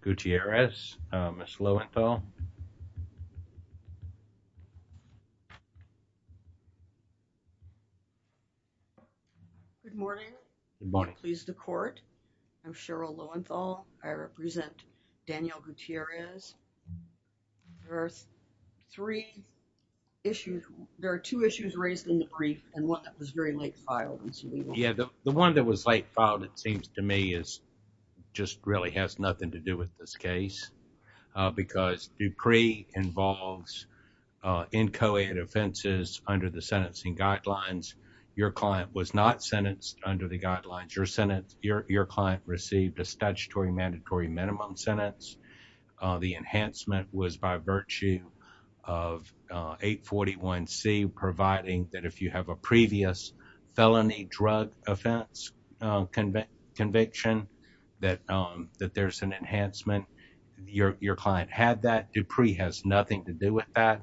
Gutierrez, Ms. Lowenthal. Good morning. Pleased to court. I'm Cheryl Lowenthal. I represent Daniel Gutierrez. There are three issues, there are two issues raised in the brief and one that was very late filed. Yeah the one that was late filed it seems to me is just really has nothing to do with this case because Dupree involves inchoate offenses under the sentencing guidelines. Your client was not sentenced under the guidelines. Your client received a statutory mandatory minimum sentence. The enhancement was by virtue of 841c providing that if you have a your client had that, Dupree has nothing to do with that.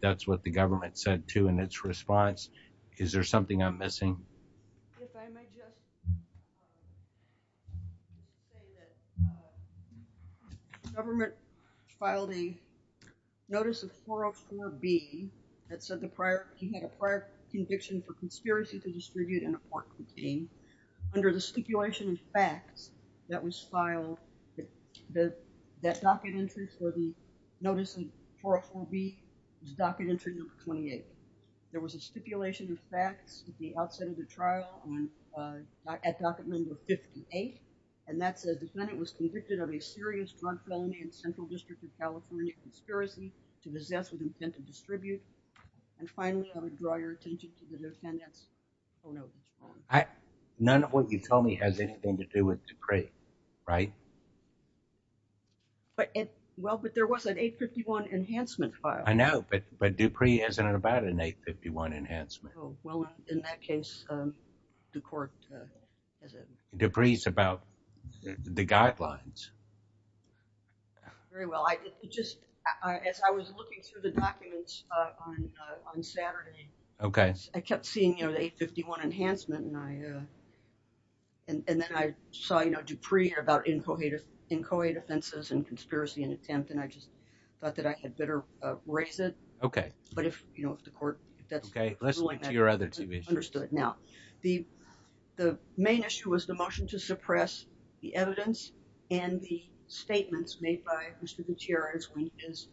That's what the government said too in its response. Is there something I'm missing? If I may just say that the government filed a notice of 404b that said the prior he had a prior conviction for conspiracy to the that docket entry for the notice of 404b was docket entry number 28. There was a stipulation of facts at the outset of the trial on uh at docket number 58 and that said the defendant was convicted of a serious drug felony in central district of California conspiracy to possess with intent to distribute and finally I would draw your attention to the defendant's I none of what you tell me has anything to do with Dupree, right? But it well but there was an 851 enhancement file. I know but but Dupree isn't about an 851 enhancement. Oh well in that case um the court has it. Dupree's about the guidelines. Very well I just as I was looking through the documents uh on uh on Saturday. Okay. I kept seeing you know the 851 enhancement and I uh and and then I saw you know Dupree about incoherent incoherent offenses and conspiracy and attempt and I just thought that I had better uh raise it. Okay. But if you know if the court that's okay let's get to your other TV understood now the the main issue was the motion to suppress the evidence and the statements made by Mr. Gutierrez when his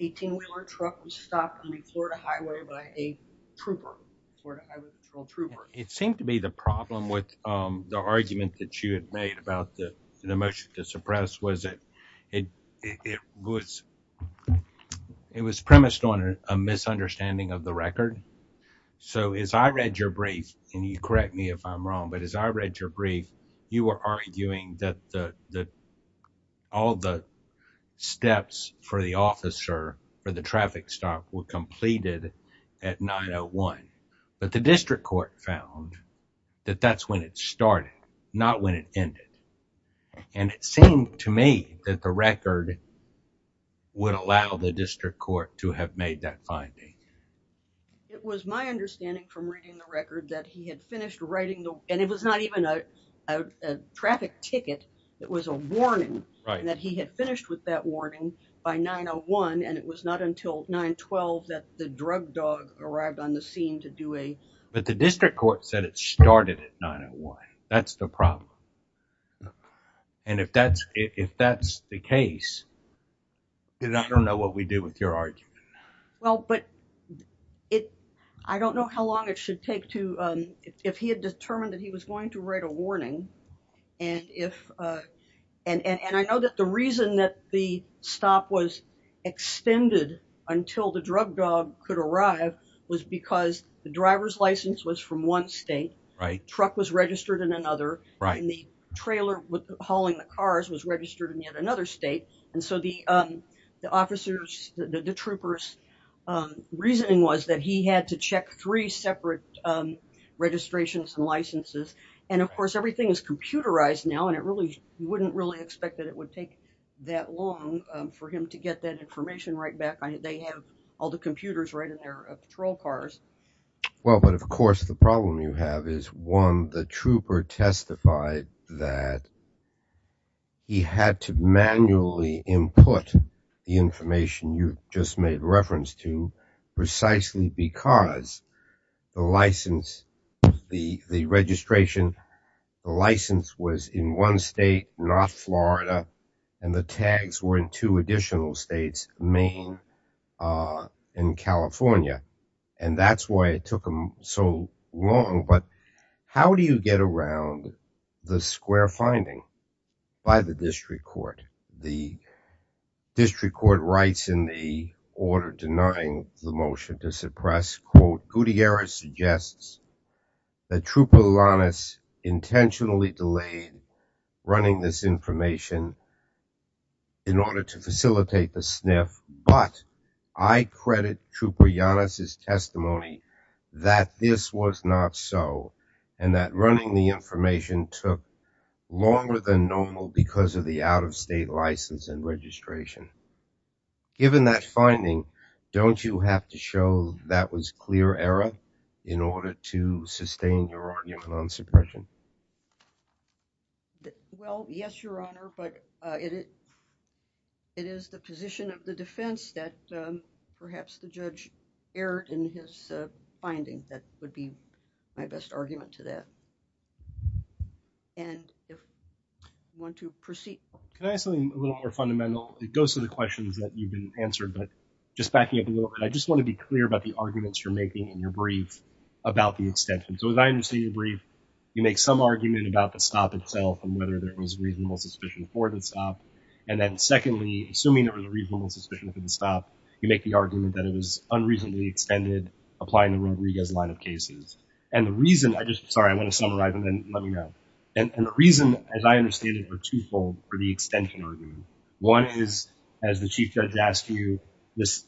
18-wheeler truck was stopped on the Florida highway by a trooper. It seemed to be the problem with um the argument that you had made about the the motion to suppress was it it it was it was premised on a misunderstanding of the record. So as I read your brief and you correct me if I'm wrong but as I read your brief you were arguing that the the all the steps for the officer for the traffic stop were completed at 901 but the district court found that that's when it started not when it ended and it seemed to me that the record would allow the district court to have made that finding. It was my understanding from reading the right that he had finished with that warning by 901 and it was not until 912 that the drug dog arrived on the scene to do a. But the district court said it started at 901 that's the problem and if that's if that's the case I don't know what we do with your argument. Well but it I don't know how long it should take to um if he had determined that he was going to write a and I know that the reason that the stop was extended until the drug dog could arrive was because the driver's license was from one state right truck was registered in another right and the trailer with hauling the cars was registered in yet another state and so the um the officers the troopers um reasoning was that he had to check three separate um registrations and licenses and of course everything is computerized now and it really wouldn't really expect that it would take that long for him to get that information right back they have all the computers right in their patrol cars. Well but of course the problem you have is one the trooper testified that he had to manually input the information you just made reference to precisely because the license the the registration the license was in one state not Florida and the tags were in two additional states Maine uh and California and that's why it took him so long but how do you get around the square finding by the district court the district court writes in the order denying the motion to suppress quote Gutierrez suggests that Trooper Llanes intentionally delayed running this information in order to facilitate the sniff but I credit Trooper Llanes' testimony that this was not so and that running the information took longer than normal because of the out-of-state license and registration given that finding don't you have to show that was clear error in order to sustain your argument on suppression well yes your honor but uh it it is the position of the defense that perhaps the judge erred in his finding that would be my best argument to that and if you want to proceed can I have something a little more fundamental it goes to the questions that you've been answered but just backing up a little bit I just want to be clear about the arguments you're making in your brief about the extension so as I understand your brief you make some argument about the stop itself and whether there was reasonable suspicion for the stop and then secondly assuming it was a reasonable suspicion for the stop you make the argument that it was unreasonably extended applying the Rodriguez line of cases and the reason I just sorry I want to summarize and then let me know and the reason as I understand it were twofold for the extension argument one is as the chief judge asked you this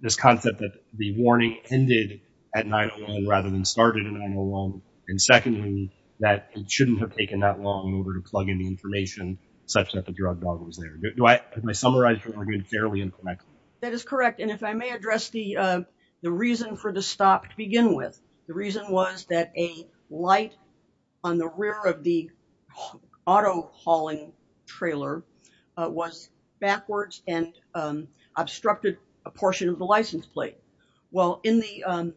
this concept that the warning ended at 9-1-1 rather than started in 9-1-1 and secondly that it shouldn't have taken that long in order to plug in the information such that the drug dog was there do I have my fairly incorrect that is correct and if I may address the the reason for the stop to begin with the reason was that a light on the rear of the auto hauling trailer was backwards and obstructed a portion of the license plate well in the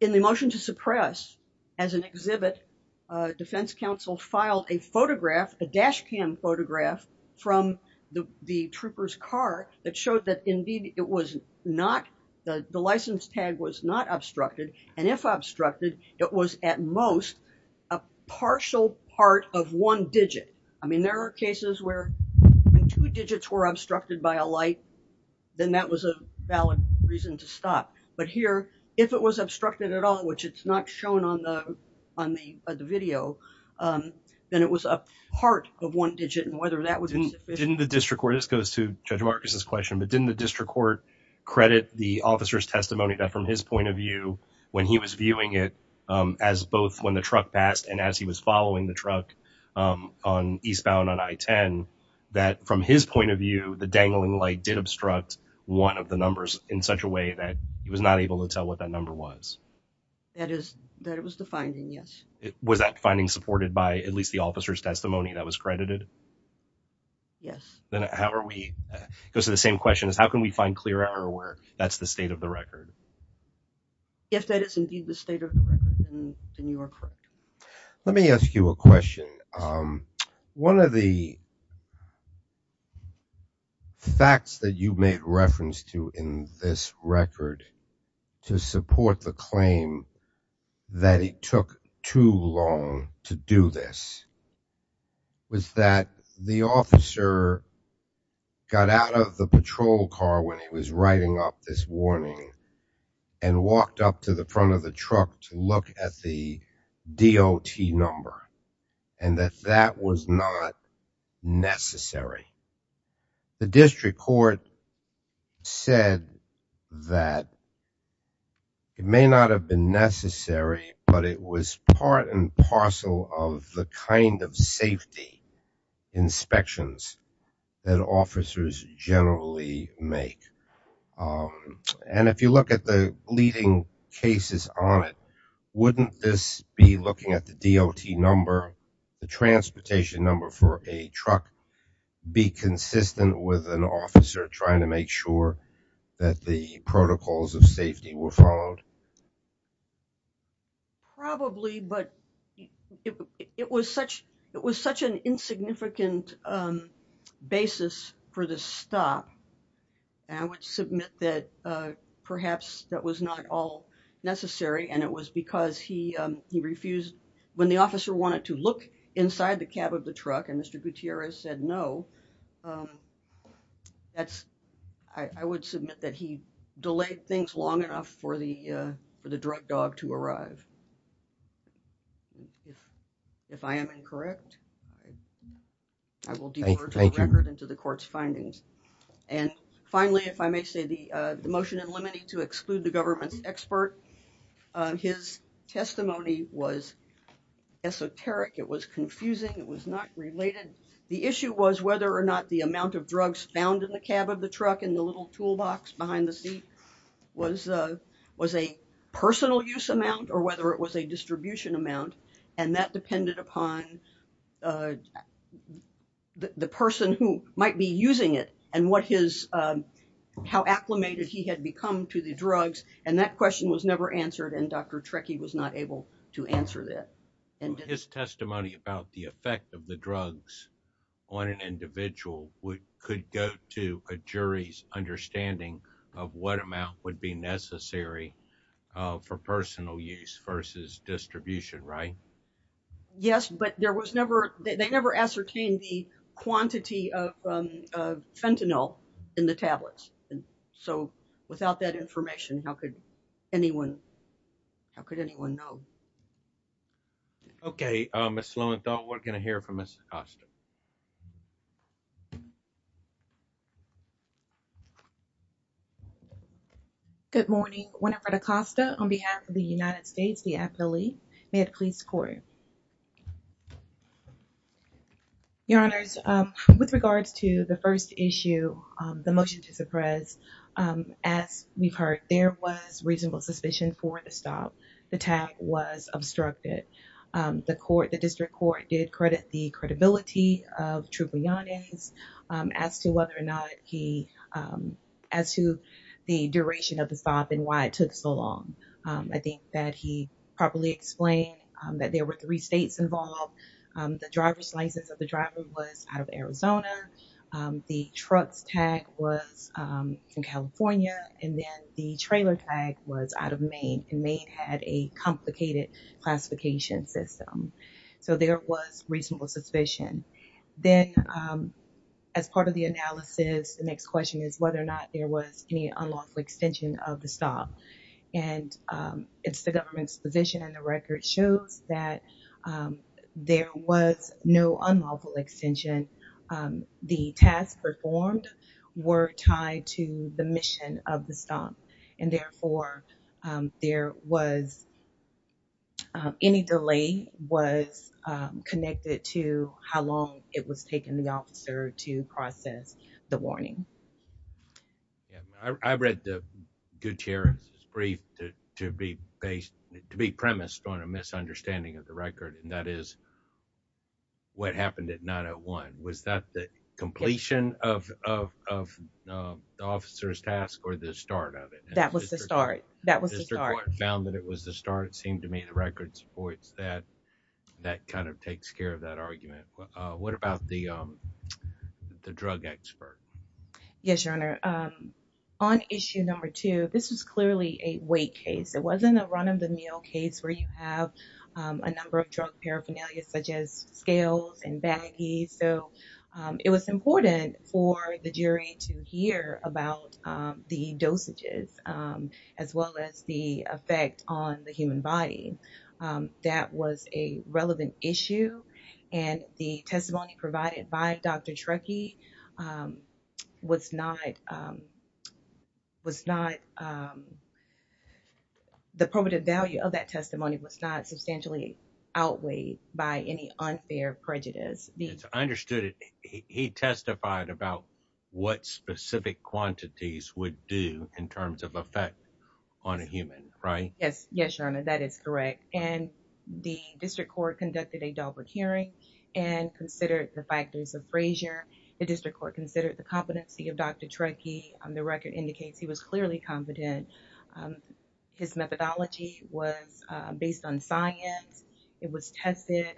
in the motion to suppress as an exhibit defense counsel filed a photograph a dash cam photograph from the the trooper's car that showed that indeed it was not the the license tag was not obstructed and if obstructed it was at most a partial part of one digit I mean there are cases where two digits were obstructed by a light then that was a valid reason to stop but here if it was obstructed at all which it's not shown on on the video um then it was a part of one digit and whether that was in the district where this goes to judge marcus's question but didn't the district court credit the officer's testimony that from his point of view when he was viewing it um as both when the truck passed and as he was following the truck um on eastbound on i-10 that from his point of view the dangling light did obstruct one of the numbers in such a way that he was not able to tell what that number was that is that it was the finding yes it was that finding supported by at least the officer's testimony that was credited yes then how are we goes to the same question is how can we find clear error where that's the state of the record if that is indeed the state of the record then you are correct let me ask you a question um one of the facts that you made reference to in this record to support the claim that it took too long to do this was that the officer got out of the patrol car when he was writing up this warning and walked up to the front of truck to look at the dot number and that that was not necessary the district court said that it may not have been necessary but it was part and parcel of the kind of safety inspections that officers generally make and if you look at the leading cases on it wouldn't this be looking at the dot number the transportation number for a truck be consistent with an officer trying to make sure that the protocols of safety were followed probably but it was such it was such an insignificant um basis for this stop and i would submit that uh perhaps that was not all necessary and it was because he um he refused when the officer wanted to look inside the cab of the truck and mr gutierrez said no um that's i i would submit that he i will divert the record into the court's findings and finally if i may say the uh the motion and limiting to exclude the government's expert his testimony was esoteric it was confusing it was not related the issue was whether or not the amount of drugs found in the cab of the truck and the little toolbox behind the seat was uh was a personal use amount or whether it was a the person who might be using it and what his um how acclimated he had become to the drugs and that question was never answered and dr trekkie was not able to answer that and his testimony about the effect of the drugs on an individual would could go to a jury's understanding of what amount would be necessary for personal use versus distribution right yes but there was never they never ascertained the quantity of um of fentanyl in the tablets and so without that information how could anyone how could anyone know okay uh miss lowenthal we're going to hear from miss acosta good morning whenever the costa on behalf of the united states the affiliate may it please court your honors um with regards to the first issue um the motion to suppress um as we've heard there was reasonable suspicion for the stop the tag was obstructed um the court the district court did credit the credibility of tribune as to whether or not he um as to the duration of the stop and why it took so long um i think that he properly explained that there were three states involved um the driver's license of the driver was out of arizona um the truck's tag was um from california and then the trailer tag was out of maine and maine had a complicated classification system so there was reasonable suspicion then um as part of the analysis the next question is whether or and um it's the government's position and the record shows that um there was no unlawful extension the tasks performed were tied to the mission of the stomp and therefore um there was any delay was connected to how long it was taken the officer to process the warning yeah i read the good chair's brief to to be based to be premised on a misunderstanding of the record and that is what happened at 901 was that the completion of of of the officer's task or the start of it that was the start that was found that it was the start seemed to me the record supports that that kind of takes care of that argument what about the um the drug expert yes your honor um on issue number two this was clearly a weight case it wasn't a run-of-the-meal case where you have a number of drug paraphernalia such as scales and baggies so it was important for the jury to hear about the dosages as well as the effect on the human body um that was a relevant issue and the testimony provided by dr trekkie um was not um was not um the probative value of that testimony was not substantially outweighed by any unfair prejudice i understood it he testified about what specific quantities would do in terms of effect on a human right yes yes your honor that is correct and the district court conducted a deliberate hearing and considered the factors of frazier the district court considered the competency of dr trekkie and the record indicates he was clearly competent um his methodology was uh based on science it was tested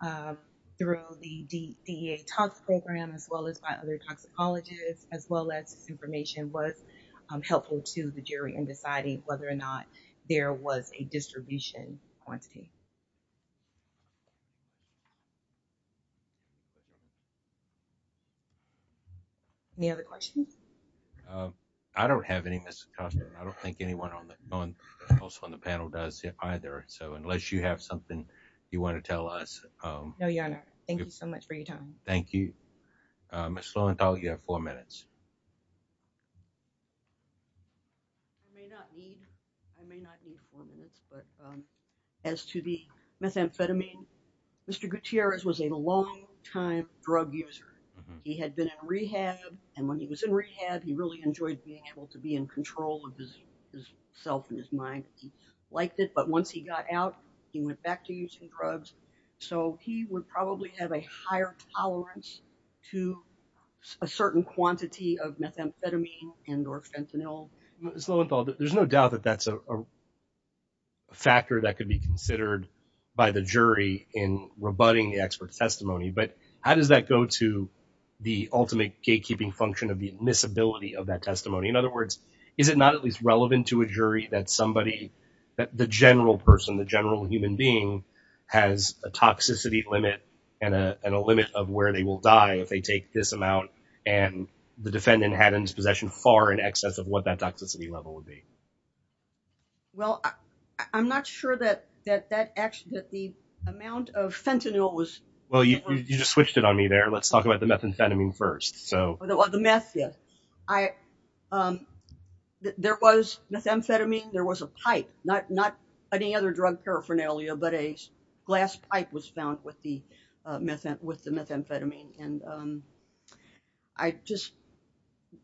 um through the dea talks program as well as by toxicologists as well as information was helpful to the jury in deciding whether or not there was a distribution quantity any other questions um i don't have any ms i don't think anyone on the phone also on the panel does either so unless you have something you want to tell us um no your honor thank you thank you um you have four minutes i may not need i may not need four minutes but um as to the methamphetamine mr gutierrez was a long time drug user he had been in rehab and when he was in rehab he really enjoyed being able to be in control of his his self in his mind he liked it but once he got out he went back to using drugs so he would probably have a higher tolerance to a certain quantity of methamphetamine and or fentanyl there's no doubt that that's a factor that could be considered by the jury in rebutting the expert testimony but how does that go to the ultimate gatekeeping function of the admissibility of that testimony in other words is it not at least relevant to a jury that somebody that the general person the general human being has a toxicity limit and a and a limit of where they will die if they take this amount and the defendant had in his possession far in excess of what that toxicity level would be well i'm not sure that that that actually that the amount of fentanyl was well you just switched it on me there let's talk about the methamphetamine first so well the meth yes i um there was methamphetamine there was a pipe not not any other drug paraphernalia but a glass pipe was found with the methamphetamine and um i just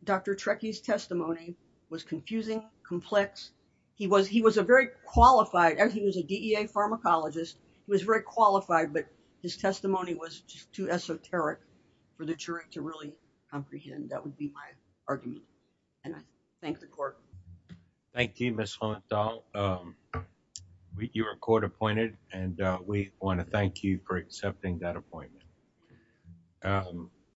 dr trekkie's testimony was confusing complex he was he was a very qualified and he was a dea pharmacologist he was very qualified but his testimony was just too esoteric for the jury to really comprehend that would be my argument and i thank the court thank you miss haunt all um you were court appointed and uh we want to thank you for accepting that appointment